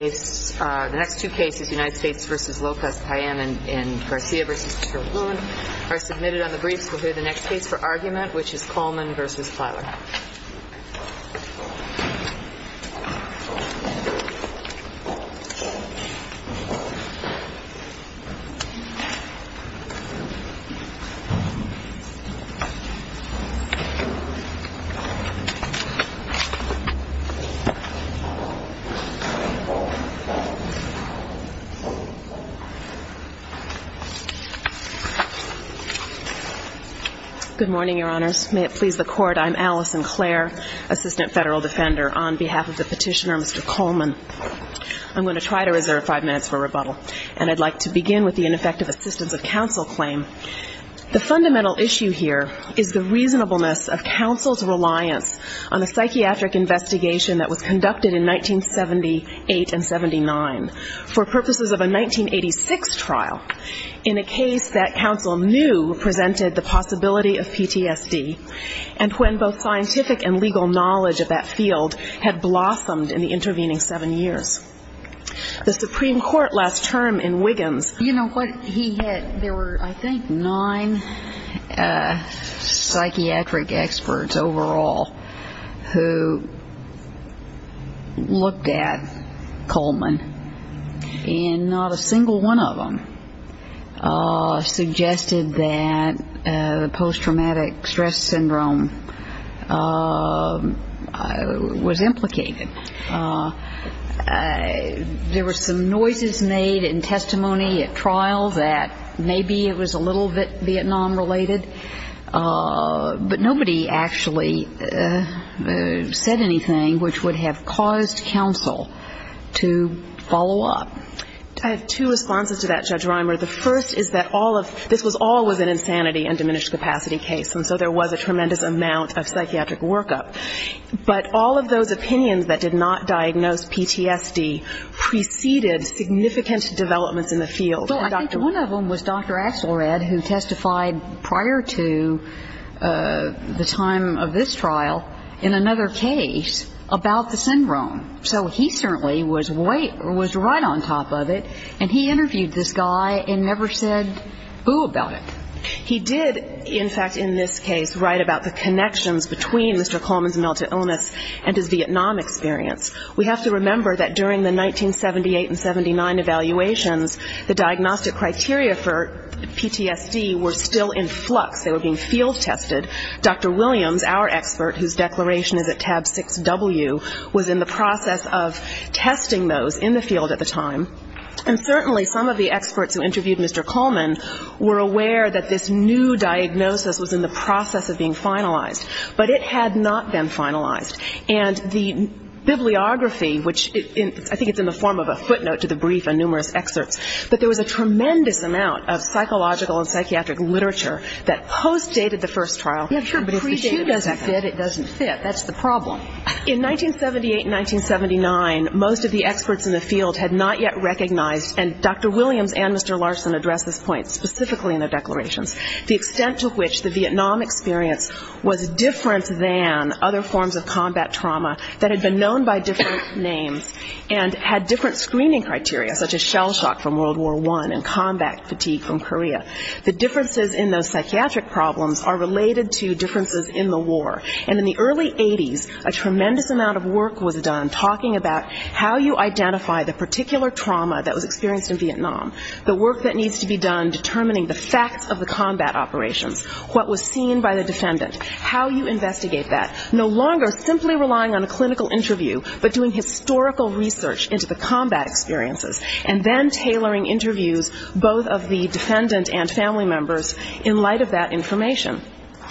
The next two cases, United States v. Lopez Payen and Garcia v. Chilcote are submitted on the briefs. We'll hear the next case for argument, which is Coleman v. Pliler. Good morning, Your Honors. May it please the Court, I'm Allison Clare, Assistant Federal Defender on behalf of the petitioner Mr. Coleman. I'm going to try to reserve five minutes for rebuttal, and I'd like to begin with the ineffective assistance of counsel claim. The fundamental issue here is the reasonableness of counsel's reliance on a psychiatric investigation that was conducted in 1978 and 79 for purposes of a 1986 trial in a case that counsel knew presented the possibility of PTSD, and when both scientific and legal knowledge of that field had blossomed in the intervening seven years. The Supreme Court last term in Wiggins. You know what he had, there were I think nine psychiatric experts overall who looked at Coleman, and not a single one of them suggested that post-traumatic stress syndrome was implicated. There were some noises made in testimony at trials that maybe it was a little Vietnam-related, but nobody actually said anything which would have caused counsel to follow up. I have two responses to that, Judge Reimer. The first is that all of this was always an insanity and diminished capacity case, and so there was a tremendous amount of psychiatric workup. But all of those opinions that did not diagnose PTSD preceded significant developments in the field. Well, I think one of them was Dr. Axelrod, who testified prior to the time of this trial in another case about the syndrome. So he certainly was right on top of it, and he interviewed this guy and never said boo about it. He did, in fact, in this case write about the connections between Mr. Coleman's mental illness and his Vietnam experience. We have to remember that during the 1978 and 79 evaluations, the diagnostic criteria for PTSD were still in flux. They were being field tested. Dr. Williams, our expert, whose declaration is at tab 6W, was in the process of testing those in the field at the time. And certainly some of the experts who interviewed Mr. Coleman were aware that this new diagnosis was in the process of being finalized. But it had not been finalized. And the bibliography, which I think it's in the form of a footnote to the brief and numerous excerpts, but there was a tremendous amount of psychological and psychiatric literature that post-dated the first trial. But if the two doesn't fit, it doesn't fit. That's the problem. In 1978 and 1979, most of the experts in the field had not yet recognized, and Dr. Williams and Mr. Larson addressed this point specifically in their declarations, the extent to which the Vietnam experience was different than other forms of combat trauma that had been known by different names and had different screening criteria, such as shell shock from World War I and combat fatigue from Korea. The differences in those psychiatric problems are related to differences in the war. And in the early 80s, a tremendous amount of work was done talking about how you identify the particular trauma that was experienced in Vietnam, the work that needs to be done determining the facts of the combat operations, what was seen by the defendant, how you investigate that, no longer simply relying on a clinical interview, but doing historical research into the combat experiences, and then tailoring interviews, both of the defendant and family members, in light of that information.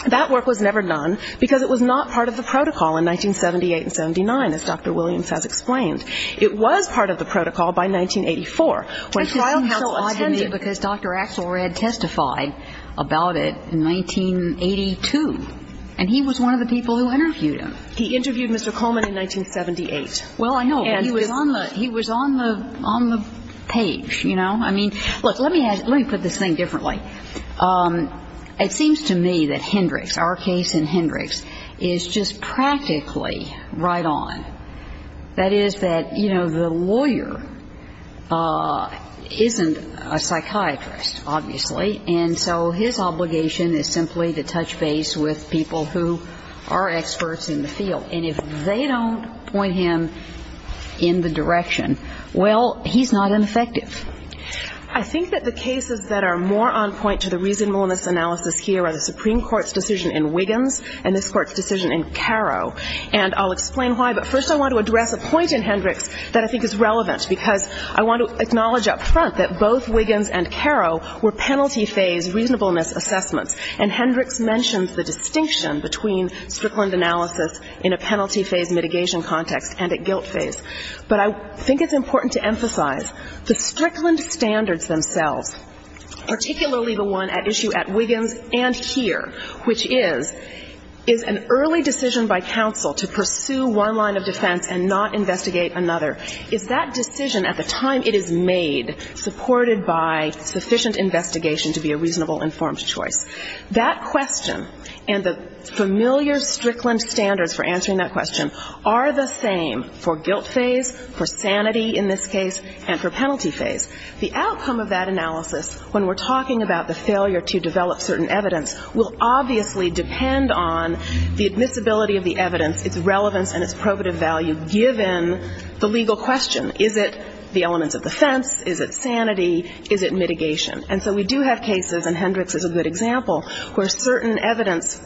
That work was never done because it was not part of the protocol in 1978 and 79, as Dr. Williams has explained. It was part of the protocol by 1984. When the trial counsel attended... That's why I'm so odd to me, because Dr. Axelrod testified about it in 1982, and he was one of the people who interviewed him. He interviewed Mr. Coleman in 1978. Well, I know, but he was on the page, you know. I mean, look, let me put this thing differently. It seems to me that Hendricks, our case in Hendricks, is just practically right on. That is that, you know, the lawyer isn't a psychiatrist, obviously, and so his obligation is simply to touch base with people who are experts in the field. And if they don't point him in the direction, well, he's not ineffective. I think that the cases that are more on point to the reasonableness analysis here are the Supreme Court's decision in Wiggins and this Court's decision in Caro, and I'll explain why. But first I want to address a point in Hendricks that I think is relevant, because I want to acknowledge up front that both Wiggins and Caro were penalty phase reasonableness assessments, and Hendricks mentions the distinction between Strickland analysis in a penalty phase mitigation context and a guilt phase. But I think it's important to emphasize the Strickland standards themselves, particularly the one at issue at Wiggins and here, which is, is an early decision by counsel to pursue one line of defense and not investigate another, is that decision at the time it is made supported by sufficient investigation to be a reasonable informed choice. That question and the familiar Strickland standards for answering that question are the same for guilt phase, for sanity in this case, and for penalty phase. The outcome of that analysis, when we're talking about the failure to develop certain evidence, will obviously depend on the admissibility of the evidence, its relevance and its probative value, given the legal question. Is it the elements of defense? Is it sanity? Is it mitigation? And so we do have cases, and Hendricks is a good example, where certain evidence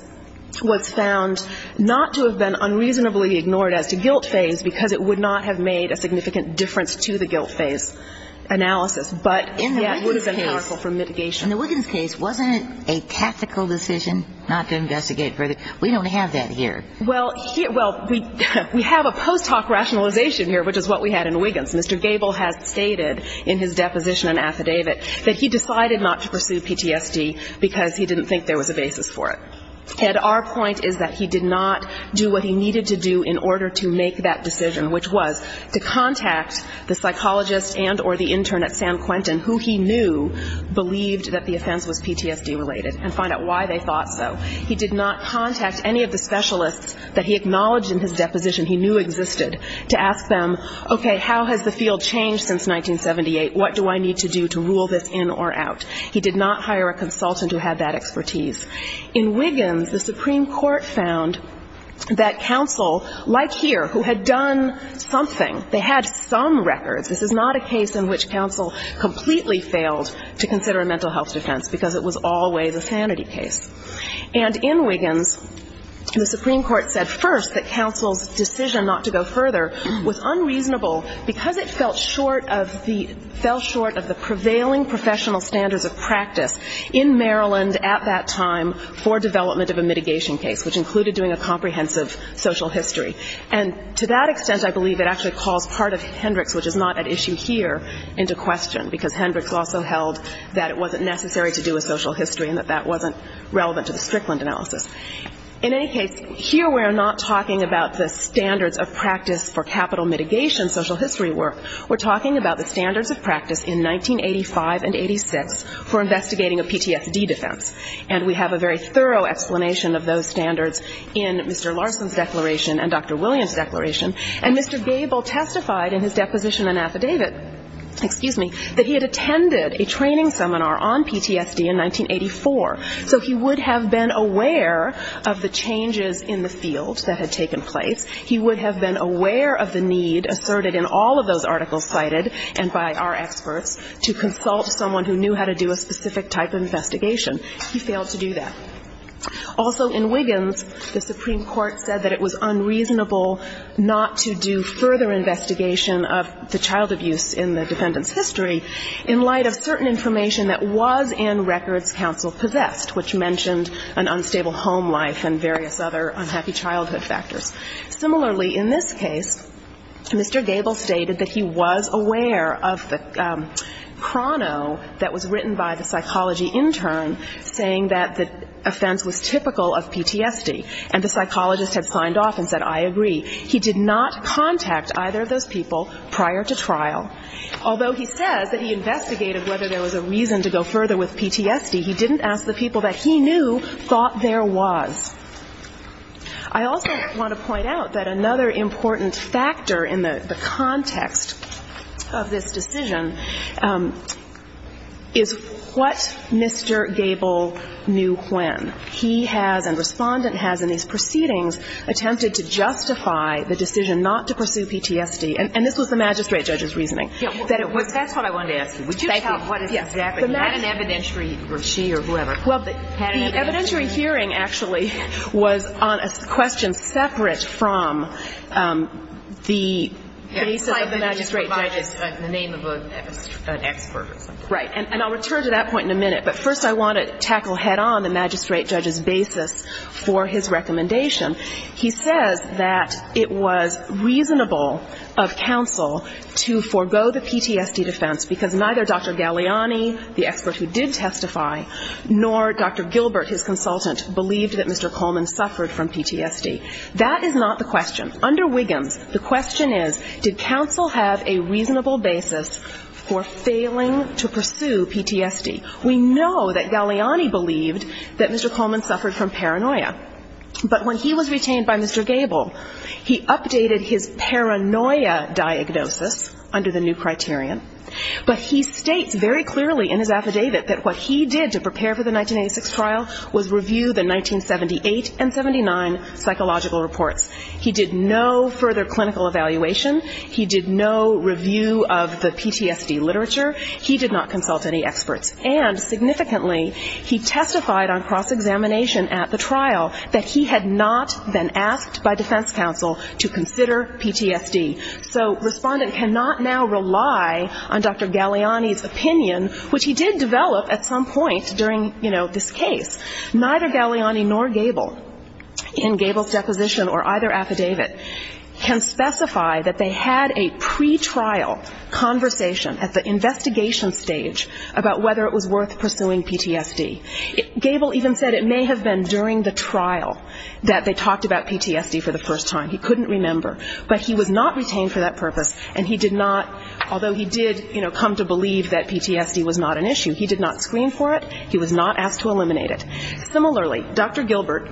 was found not to have been unreasonably ignored as to guilt phase because it would not have made a significant difference to the guilt phase analysis. But, yes, it would have been helpful for mitigation. In the Wiggins case, wasn't it a tactical decision not to investigate further? We don't have that here. Well, we have a post hoc rationalization here, which is what we had in Wiggins. Mr. Gable has stated in his deposition and affidavit that he decided not to pursue PTSD because he didn't think there was a basis for it. And our point is that he did not do what he needed to do in order to make that decision, which was to contact the psychologist and or the intern at San Quentin, who he knew believed that the offense was PTSD related, and find out why they thought so. He did not contact any of the specialists that he acknowledged in his deposition he knew existed to ask them, okay, how has the field changed since 1978? What do I need to do to rule this in or out? He did not hire a consultant who had that expertise. In Wiggins, the Supreme Court found that counsel, like here, who had done something, they had some records. This is not a case in which counsel completely failed to consider a mental health defense, because it was always a sanity case. And in Wiggins, the Supreme Court said first that counsel's decision not to go further was unreasonable because it fell short of the prevailing professional standards of practice in Maryland at that time for development of a mitigation case, which included doing a comprehensive social history. And to that extent, I believe it actually calls part of Hendricks, which is not at issue here, into question, because Hendricks also held that it wasn't necessary to do a social history and that that wasn't relevant to the Strickland analysis. In any case, here we're not talking about the standards of practice for capital mitigation social history work. We're talking about the standards of practice in 1985 and 86 for investigating a PTSD defense. And we have a very thorough explanation of those standards in Mr. Larson's declaration and Dr. Williams' declaration. And Mr. Gable testified in his deposition and affidavit, excuse me, that he had attended a training seminar on PTSD in 1984. So he would have been aware of the changes in the field that had taken place. He would have been aware of the need asserted in all of those articles cited and by our experts to consult someone who knew how to do a specific type of investigation. He failed to do that. Also in Wiggins, the Supreme Court said that it was unreasonable not to do further investigation of the child abuse in the defendant's history in light of certain information that was in records counsel possessed, which mentioned an unstable home life and various other unhappy childhood factors. Similarly, in this case, Mr. Gable stated that he was aware of the chrono that was written by the psychology intern saying that the offense was typical of PTSD. And the psychologist had signed off and said, I agree. He did not contact either of those people prior to trial. Although he says that he investigated whether there was a reason to go further with PTSD, he didn't ask the people that he knew thought there was. I also want to point out that another important factor in the context of this decision is what Mr. Gable knew when. He has, and Respondent has in these proceedings, attempted to justify the decision not to pursue PTSD. And this was the magistrate judge's reasoning. That it was. That's what I wanted to ask you. Thank you. Would you tell us what exactly? Had an evidentiary, or she or whoever. Well, the evidentiary hearing actually was on a question separate from the basis of the magistrate judge's. The name of an expert. Right. And I'll return to that point in a minute. But first I want to tackle head-on the magistrate judge's basis for his recommendation. He says that it was reasonable of counsel to forego the PTSD defense because neither Dr. Galeani, the expert who did testify, nor Dr. Gilbert, his consultant, believed that Mr. Coleman suffered from PTSD. That is not the question. Under Wiggins, the question is, did counsel have a reasonable basis for failing to pursue PTSD? We know that Galeani believed that Mr. Coleman suffered from paranoia. But when he was retained by Mr. Gable, he updated his paranoia diagnosis under the new criterion. But he states very clearly in his affidavit that what he did to prepare for the 1986 trial was review the 1978 and 79 psychological reports. He did no further clinical evaluation. He did no review of the PTSD literature. He did not consult any experts. And significantly, he testified on cross-examination at the trial that he had not been asked by defense counsel to consider PTSD. So respondent cannot now rely on Dr. Galeani's opinion, which he did develop at some point during, you know, this case. Neither Galeani nor Gable, in Gable's deposition or either affidavit, can specify that they had a pretrial conversation at the investigation stage about whether it was worth pursuing PTSD. Gable even said it may have been during the trial that they talked about PTSD for the first time. He couldn't remember. But he was not retained for that purpose, and he did not, although he did, you know, come to believe that PTSD was not an issue, he did not screen for it, he was not asked to eliminate it. Similarly, Dr. Gilbert,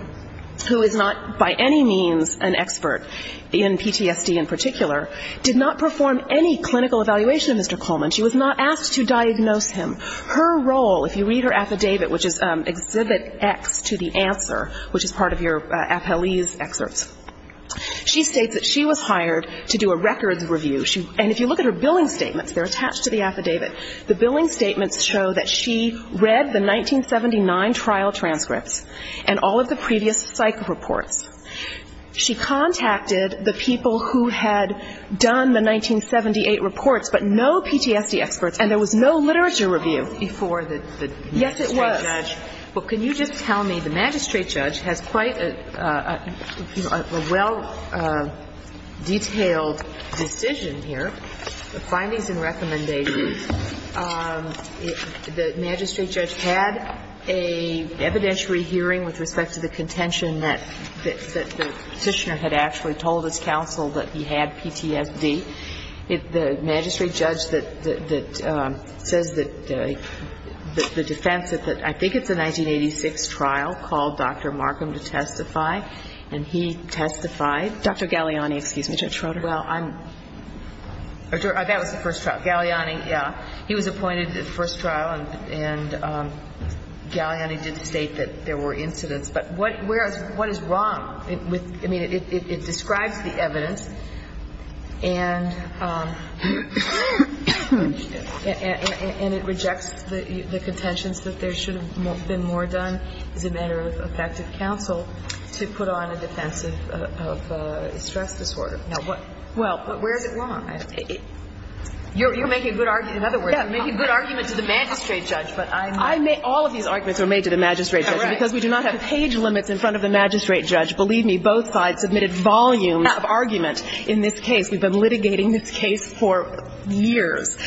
who is not by any means an expert in PTSD in particular, did not perform any clinical evaluation of Mr. Coleman. She was not asked to diagnose him. Her role, if you read her affidavit, which is exhibit X to the answer, which is part of your appellee's excerpts, she states that she was hired to do a records review. And if you look at her billing statements, they're attached to the affidavit. The billing statements show that she read the 1979 trial transcripts and all of the previous psych reports. She contacted the people who had done the 1978 reports, but no PTSD experts. And there was no literature review before the magistrate judge. Yes, it was. Well, can you just tell me, the magistrate judge has quite a well-detailed decision here, the findings and recommendations. The magistrate judge had a evidentiary hearing with respect to the contention that the petitioner had actually told his counsel that he had PTSD. The magistrate judge that says that the defense, I think it's a 1986 trial, called Dr. Markham to testify, and he testified. Dr. Galliani, excuse me. Judge Schroeder. Well, that was the first trial. Galliani, yeah. He was appointed at the first trial, and Galliani did state that there were incidents. But what is wrong? I mean, it describes the evidence, and it rejects the contentions that there should have been more done as a matter of effective counsel to put on a defense of stress disorder. Well, but where is it wrong? You're making a good argument. In other words, you're making a good argument to the magistrate judge, but I'm not. All of these arguments were made to the magistrate judge. Because we do not have page limits in front of the magistrate judge. Believe me, both sides submitted volumes of argument in this case. We've been litigating this case for years.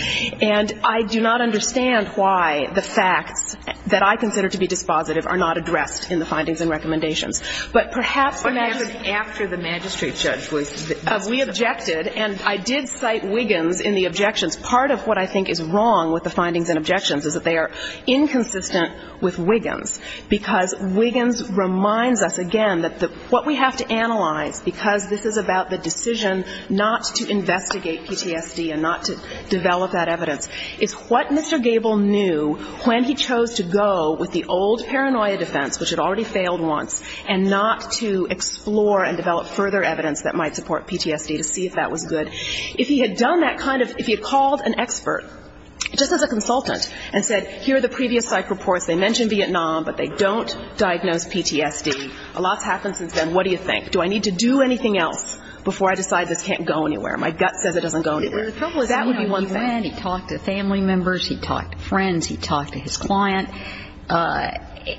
And I do not understand why the facts that I consider to be dispositive are not addressed in the findings and recommendations. But perhaps the magistrate judge was dispositive. Because we objected, and I did cite Wiggins in the objections. Part of what I think is wrong with the findings and objections is that they are inconsistent with Wiggins. Because Wiggins reminds us again that what we have to analyze, because this is about the decision not to investigate PTSD and not to develop that evidence, is what Mr. Gable knew when he chose to go with the old paranoia defense, which had already failed once, and not to explore and develop further evidence that might support PTSD to see if that was good. If he had done that kind of ‑‑ if he had called an expert, just as a consultant, and said, here are the previous psych reports. They mention Vietnam, but they don't diagnose PTSD. A lot has happened since then. What do you think? Do I need to do anything else before I decide this can't go anywhere? My gut says it doesn't go anywhere. That would be one thing. He talked to family members. He talked to friends. He talked to his client.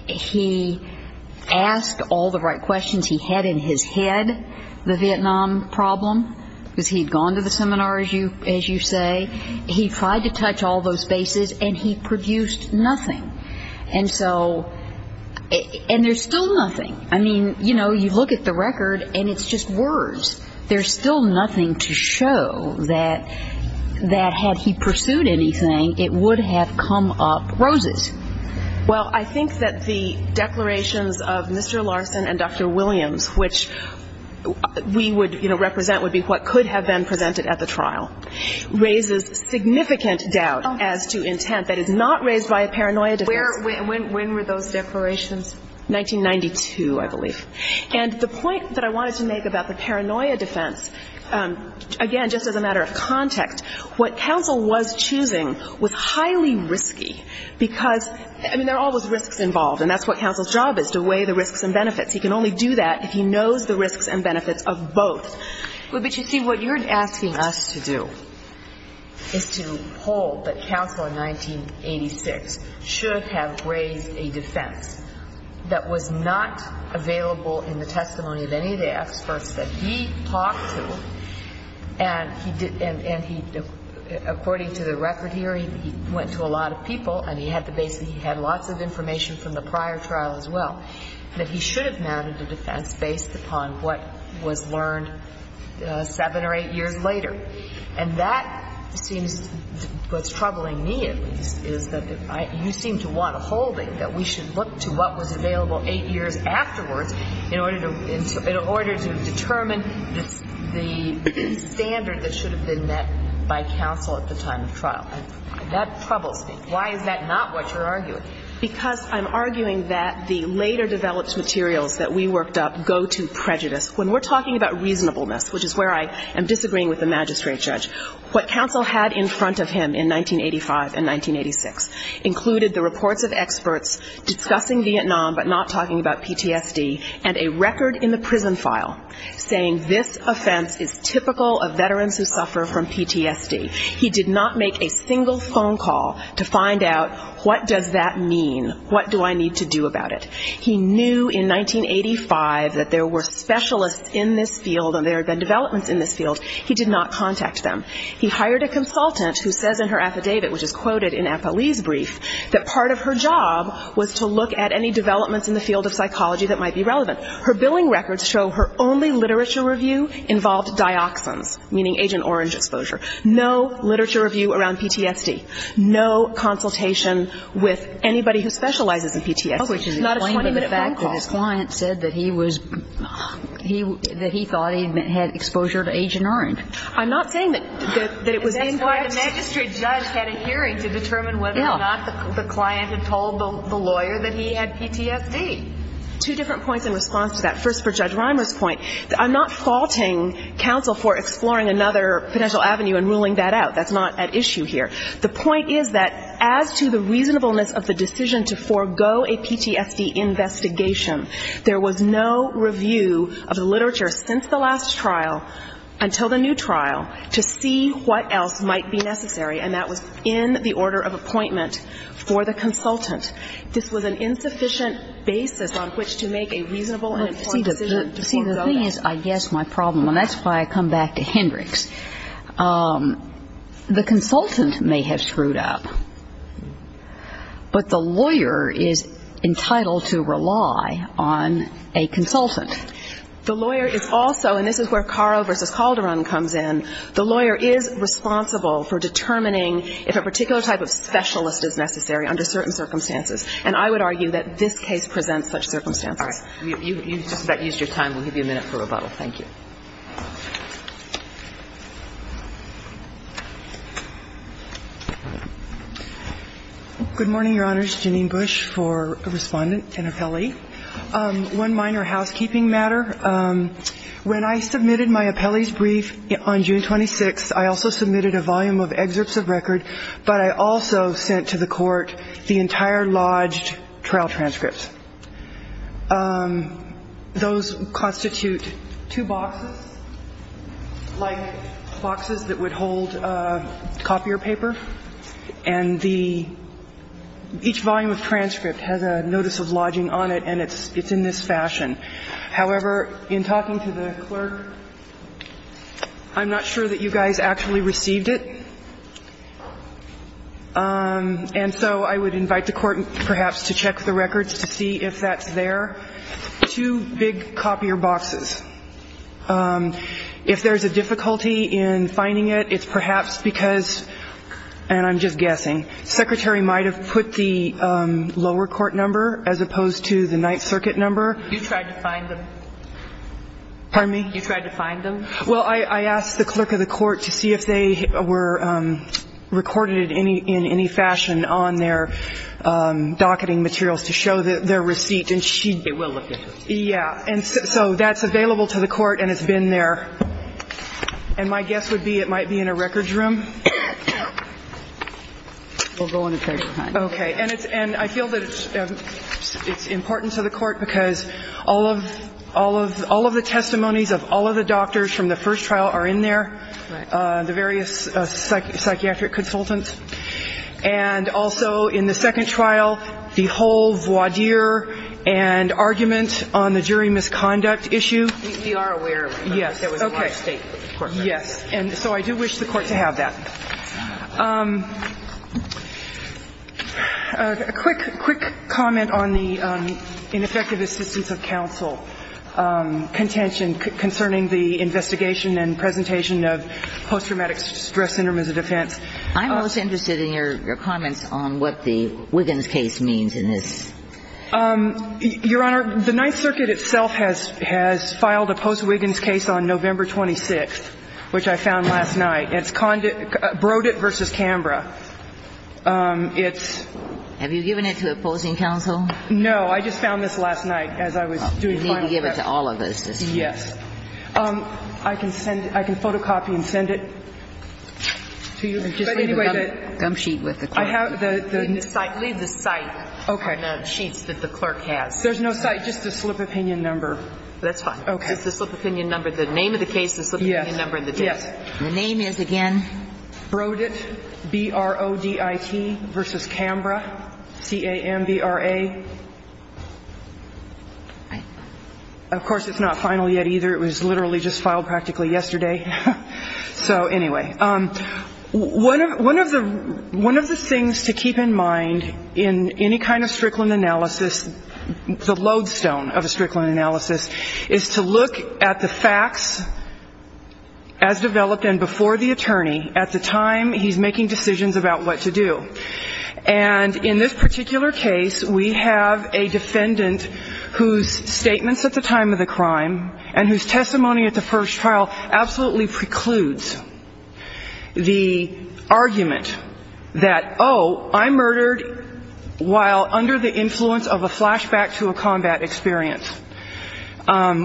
He asked all the right questions. He had in his head the Vietnam problem because he had gone to the seminar, as you say. He tried to touch all those bases, and he produced nothing. And so ‑‑ and there's still nothing. I mean, you know, you look at the record, and it's just words. There's still nothing to show that had he pursued anything, it would have come up roses. Well, I think that the declarations of Mr. Larson and Dr. Williams, which we would, you know, represent would be what could have been presented at the trial, raises significant doubt as to intent that is not raised by a paranoia defense. When were those declarations? 1992, I believe. And the point that I wanted to make about the paranoia defense, again, just as a matter of context, what counsel was choosing was highly risky because, I mean, there are always risks involved, and that's what counsel's job is, to weigh the risks and benefits. He can only do that if he knows the risks and benefits of both. But, you see, what you're asking us to do is to hold that counsel in 1986 should have raised a defense that was not available in the testimony of any of the experts that he talked to, and he did, and he, according to the record here, he went to a lot of people, and he had the base, he had lots of information from the prior trial as well, that he should have mounted a defense based upon what was learned seven or eight years later. And that seems, what's troubling me, at least, is that you seem to want a holding that we should look to what was available eight years afterwards in order to determine the standard that should have been met by counsel at the time of trial. That troubles me. Why is that not what you're arguing? Because I'm arguing that the later developed materials that we worked up go to prejudice. When we're talking about reasonableness, which is where I am disagreeing with the magistrate judge, what counsel had in front of him in 1985 and 1986 included the reports of experts discussing Vietnam but not talking about PTSD and a record in the prison file saying this offense is typical of veterans who suffer from PTSD. He did not make a single phone call to find out what does that mean, what do I need to do about it. He knew in 1985 that there were specialists in this field and there had been developments in this field. He did not contact them. He hired a consultant who says in her affidavit, which is quoted in Apolli's brief, that part of her job was to look at any developments in the field of psychology that might be relevant. Her billing records show her only literature review involved dioxins, meaning Agent Orange exposure. No literature review around PTSD. No consultation with anybody who specializes in PTSD. Oh, which is a 20-minute phone call. But his client said that he thought he had exposure to Agent Orange. I'm not saying that it was incorrect. The magistrate judge had a hearing to determine whether or not the client had told the lawyer that he had PTSD. Two different points in response to that. First, for Judge Reimer's point, I'm not faulting counsel for exploring another potential avenue and ruling that out. That's not at issue here. The point is that as to the reasonableness of the decision to forego a PTSD investigation, there was no review of the literature since the last trial until the new trial to see what else might be necessary, and that was in the order of appointment for the consultant. This was an insufficient basis on which to make a reasonable and important decision to forego that. See, the thing is, I guess my problem, and that's why I come back to Hendricks, the consultant may have screwed up, but the lawyer is entitled to rely on a consultant. The lawyer is also, and this is where Caro v. Calderon comes in, the lawyer is responsible for determining if a particular type of specialist is necessary under certain circumstances, and I would argue that this case presents such circumstances. All right. You've just about used your time. Thank you. Good morning, Your Honors. Janine Bush for a respondent and appellee. One minor housekeeping matter. When I submitted my appellee's brief on June 26th, I also submitted a volume of excerpts of record, but I also sent to the Court the entire lodged trial transcripts. Those constitute two boxes, like boxes that would hold copier paper, and each volume of transcript has a notice of lodging on it, and it's in this fashion. However, in talking to the clerk, I'm not sure that you guys actually received it, and so I would invite the Court perhaps to check the records to see if that's there. Two big copier boxes. If there's a difficulty in finding it, it's perhaps because, and I'm just guessing, the Secretary might have put the lower court number as opposed to the Ninth Circuit number. You tried to find them? Pardon me? You tried to find them? Well, I asked the clerk of the Court to see if they were recorded in any fashion on their docketing materials to show their receipt. They will look at them. Yeah. And so that's available to the Court, and it's been there. And my guess would be it might be in a records room. We'll go in a period of time. Okay. And I feel that it's important to the Court because all of the testimonies of all of the doctors from the first trial are in there, the various psychiatric consultants, and also in the second trial, the whole voir dire and argument on the jury misconduct issue. We are aware of it. Yes. Okay. Yes. And so I do wish the Court to have that. A quick comment on the ineffective assistance of counsel contention concerning the investigation and presentation of post-traumatic stress syndrome as a defense. I'm most interested in your comments on what the Wiggins case means in this. Your Honor, the Ninth Circuit itself has filed a post-Wiggins case on November 26th, which I found last night. It's Brodit v. Canberra. It's ---- Have you given it to opposing counsel? No. I just found this last night as I was doing final checks. You need to give it to all of us this morning. Yes. I can send ---- I can photocopy and send it to you. Just leave another gum sheet with the clerk. I have the ---- Leave the site. Okay. And the sheets that the clerk has. There's no site. Just the slip of opinion number. That's fine. Okay. Just the slip of opinion number, the name of the case, the slip of opinion number and the date. Yes. The name is, again? Brodit, B-R-O-D-I-T, v. Canberra, C-A-M-B-R-A. Of course, it's not final yet either. It was literally just filed practically yesterday. So anyway, one of the things to keep in mind in any kind of Strickland analysis, the lodestone of a Strickland analysis, is to look at the facts as developed and before the attorney at the time he's making decisions about what to do. And in this particular case, we have a defendant whose statements at the time of the crime and whose testimony at the first trial absolutely precludes the argument that, oh, I murdered while under the influence of a flashback to a combat experience.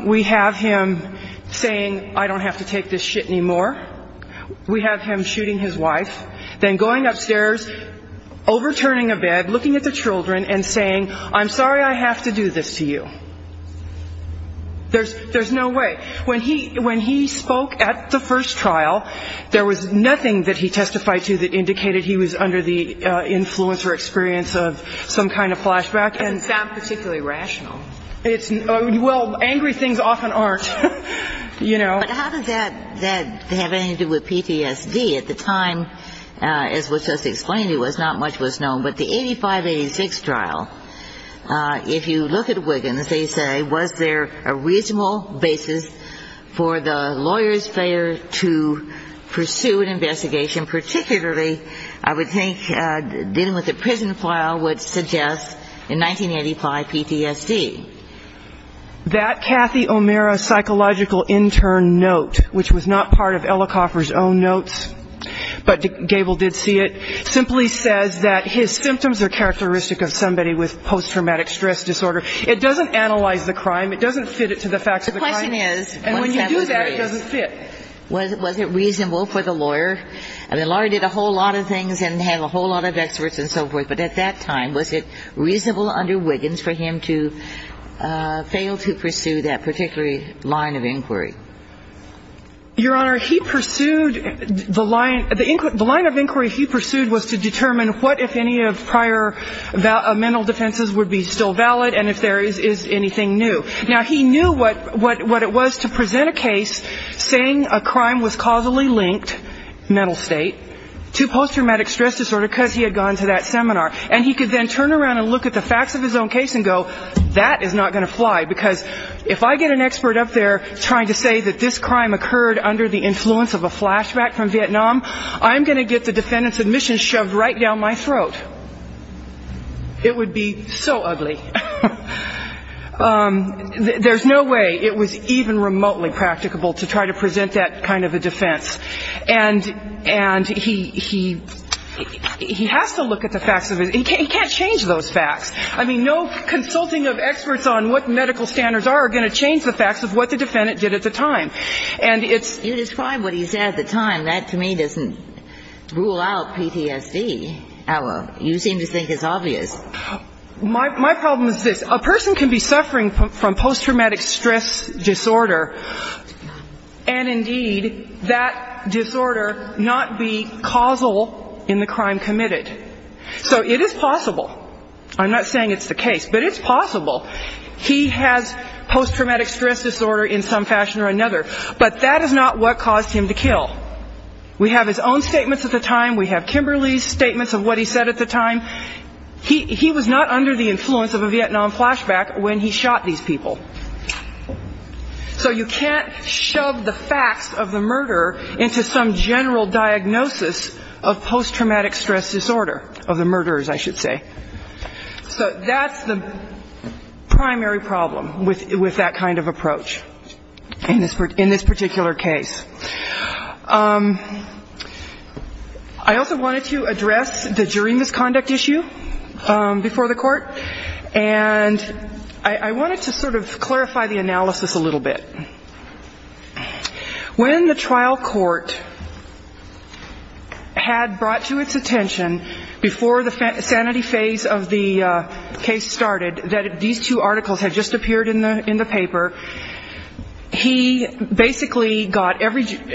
We have him saying, I don't have to take this shit anymore. We have him shooting his wife, then going upstairs, overturning a bed, looking at the children and saying, I'm sorry I have to do this to you. There's no way. When he spoke at the first trial, there was nothing that he testified to that indicated he was under the influence or experience of some kind of flashback. It doesn't sound particularly rational. Well, angry things often aren't, you know. But how does that have anything to do with PTSD? At the time, as was just explained, not much was known. But the 85-86 trial, if you look at Wiggins, they say, was there a reasonable basis for the lawyer's failure to pursue an investigation, particularly I would think dealing with the prison trial would suggest in 1985 PTSD. That Cathy O'Meara psychological intern note, which was not part of Ellicoffer's own notes, but Gable did see it, simply says that his symptoms are characteristic of somebody with post-traumatic stress disorder. It doesn't analyze the crime. It doesn't fit it to the facts of the crime. And when you do that, it doesn't fit. Was it reasonable for the lawyer? I mean, the lawyer did a whole lot of things and had a whole lot of experts and so forth. But at that time, was it reasonable under Wiggins for him to fail to pursue that particular line of inquiry? Your Honor, he pursued the line of inquiry he pursued was to determine what, if any, of prior mental defenses would be still valid and if there is anything new. Now, he knew what it was to present a case saying a crime was causally linked, mental state, to post-traumatic stress disorder because he had gone to that seminar. And he could then turn around and look at the facts of his own case and go, that is not going to fly because if I get an expert up there trying to say that this crime occurred under the influence of a flashback from Vietnam, I'm going to get the defendant's admission shoved right down my throat. It would be so ugly. There's no way it was even remotely practicable to try to present that kind of a defense. And he has to look at the facts of it. He can't change those facts. I mean, no consulting of experts on what medical standards are going to change the facts of what the defendant did at the time. You describe what he said at the time. That, to me, doesn't rule out PTSD. You seem to think it's obvious. My problem is this. A person can be suffering from post-traumatic stress disorder, and indeed that disorder not be causal in the crime committed. So it is possible. I'm not saying it's the case, but it's possible. He has post-traumatic stress disorder in some fashion or another, but that is not what caused him to kill. We have his own statements at the time. We have Kimberly's statements of what he said at the time. He was not under the influence of a Vietnam flashback when he shot these people. So you can't shove the facts of the murderer into some general diagnosis of post-traumatic stress disorder, of the murderers, I should say. So that's the primary problem with that kind of approach in this particular case. I also wanted to address the jury misconduct issue before the court, and I wanted to sort of clarify the analysis a little bit. When the trial court had brought to its attention before the sanity phase of the case started that these two articles had just appeared in the paper, he basically got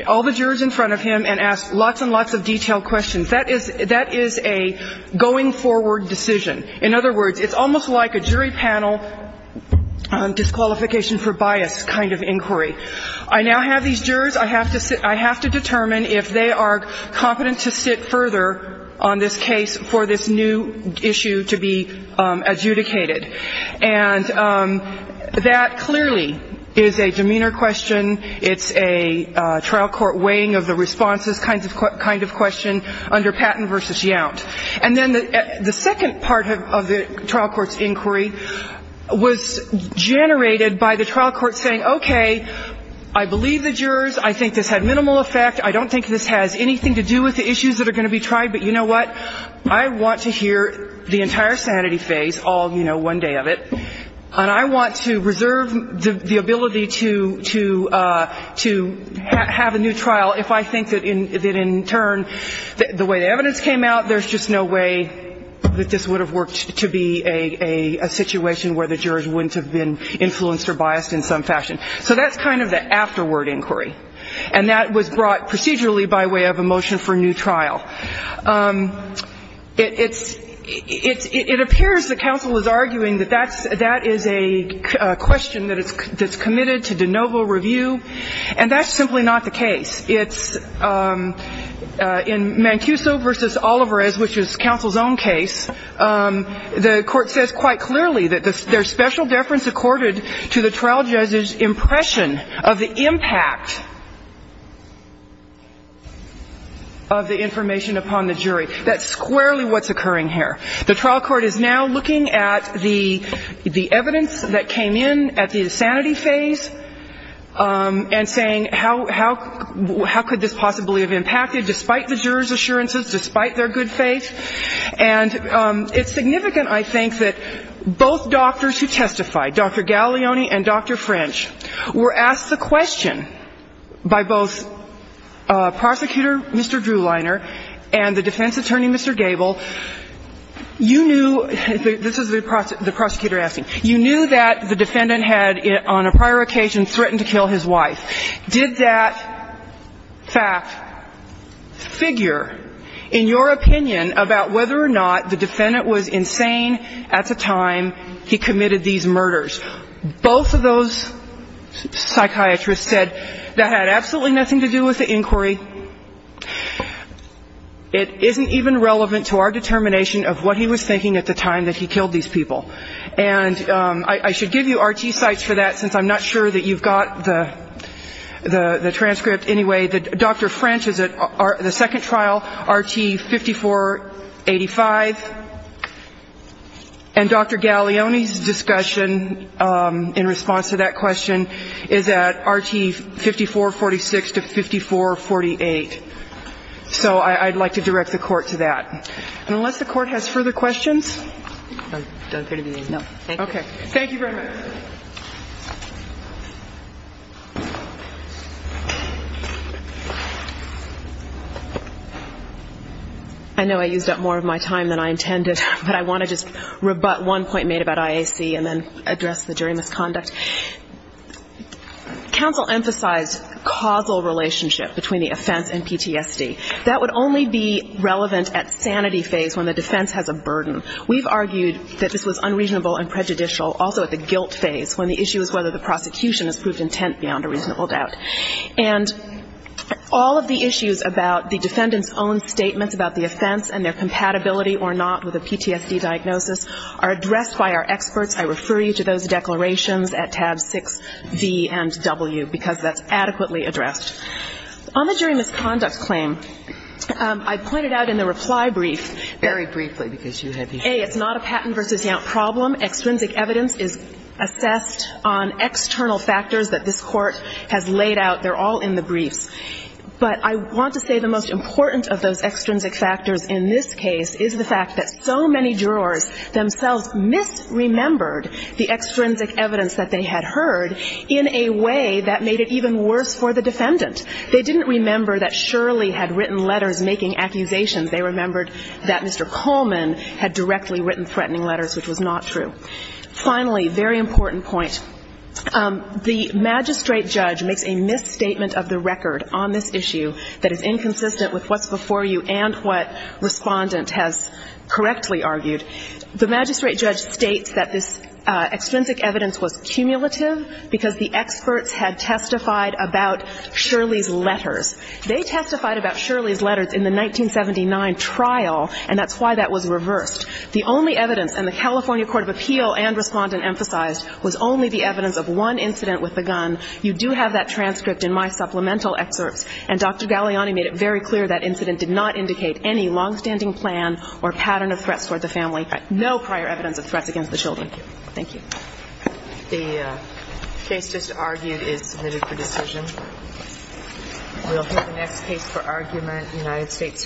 all the jurors in front of him and asked lots and lots of detailed questions. That is a going-forward decision. In other words, it's almost like a jury panel disqualification for bias kind of inquiry. I now have these jurors. I have to determine if they are competent to sit further on this case for this new issue to be adjudicated. And that clearly is a demeanor question. It's a trial court weighing of the responses kind of question under Patton v. Yount. And then the second part of the trial court's inquiry was generated by the trial court saying, okay, I believe the jurors. I think this had minimal effect. I don't think this has anything to do with the issues that are going to be tried. But you know what? I want to hear the entire sanity phase all, you know, one day of it. And I want to reserve the ability to have a new trial if I think that in turn the way the evidence came out, there's just no way that this would have worked to be a situation where the jurors wouldn't have been influenced or biased in some fashion. So that's kind of the afterward inquiry. And that was brought procedurally by way of a motion for a new trial. It appears the counsel is arguing that that is a question that's committed to de novo review. And that's simply not the case. In Mancuso v. Olivares, which is counsel's own case, the court says quite clearly that there's special deference accorded to the trial judge's impression of the impact of the information upon the jury. That's squarely what's occurring here. The trial court is now looking at the evidence that came in at the insanity phase and saying, how could this possibly have impacted, despite the jurors' assurances, despite their good faith? And it's significant, I think, that both doctors who testified, Dr. Gaglione and Dr. French, were asked the question by both Prosecutor Mr. Drewliner and the defense attorney, Mr. Gable. You knew, this is the prosecutor asking, you knew that the defendant had on a prior occasion threatened to kill his wife. Did that fact figure in your opinion about whether or not the defendant was insane at the time he committed these murders? Both of those psychiatrists said that had absolutely nothing to do with the inquiry. It isn't even relevant to our determination of what he was thinking at the time that he killed these people. And I should give you RT sites for that, since I'm not sure that you've got the transcript. Anyway, Dr. French is at the second trial, RT 5485. And Dr. Gaglione's discussion in response to that question is at RT 5446 to 5448. So I'd like to direct the court to that. And unless the court has further questions? No. Okay. Thank you very much. I know I used up more of my time than I intended, but I want to just rebut one point made about IAC and then address the jury misconduct. Counsel emphasized causal relationship between the offense and PTSD. That would only be relevant at sanity phase, when the defense has a burden. We've argued that this was unreasonable and prejudicial also at the guilt phase, when the issue is whether the prosecution has proved intent beyond a reasonable doubt. And all of the issues about the defendant's own statements about the offense and their compatibility or not with a PTSD diagnosis are addressed by our experts. I refer you to those declarations at tabs 6D and W, because that's adequately addressed. On the jury misconduct claim, I pointed out in the reply brief that, A, it's not a Patton v. Yount problem. Extrinsic evidence is assessed on external factors that this Court has laid out. They're all in the briefs. But I want to say the most important of those extrinsic factors in this case is the fact that so many jurors themselves misremembered the extrinsic evidence that they had heard in a way that made it even worse for the defendant. They didn't remember that Shirley had written letters making accusations. They remembered that Mr. Coleman had directly written threatening letters, which was not true. Finally, very important point, the magistrate judge makes a misstatement of the record on this issue that is inconsistent with what's before you and what Respondent has correctly argued. The magistrate judge states that this extrinsic evidence was cumulative because the experts had testified about Shirley's letters. They testified about Shirley's letters in the 1979 trial, and that's why that was reversed. The only evidence, and the California Court of Appeal and Respondent emphasized, was only the evidence of one incident with the gun. You do have that transcript in my supplemental excerpts. And Dr. Galliani made it very clear that incident did not indicate any longstanding plan or pattern of threats toward the family, no prior evidence of threats against the children. Thank you. The case just argued is submitted for decision. We'll hear the next case for argument, United States v. Harwood.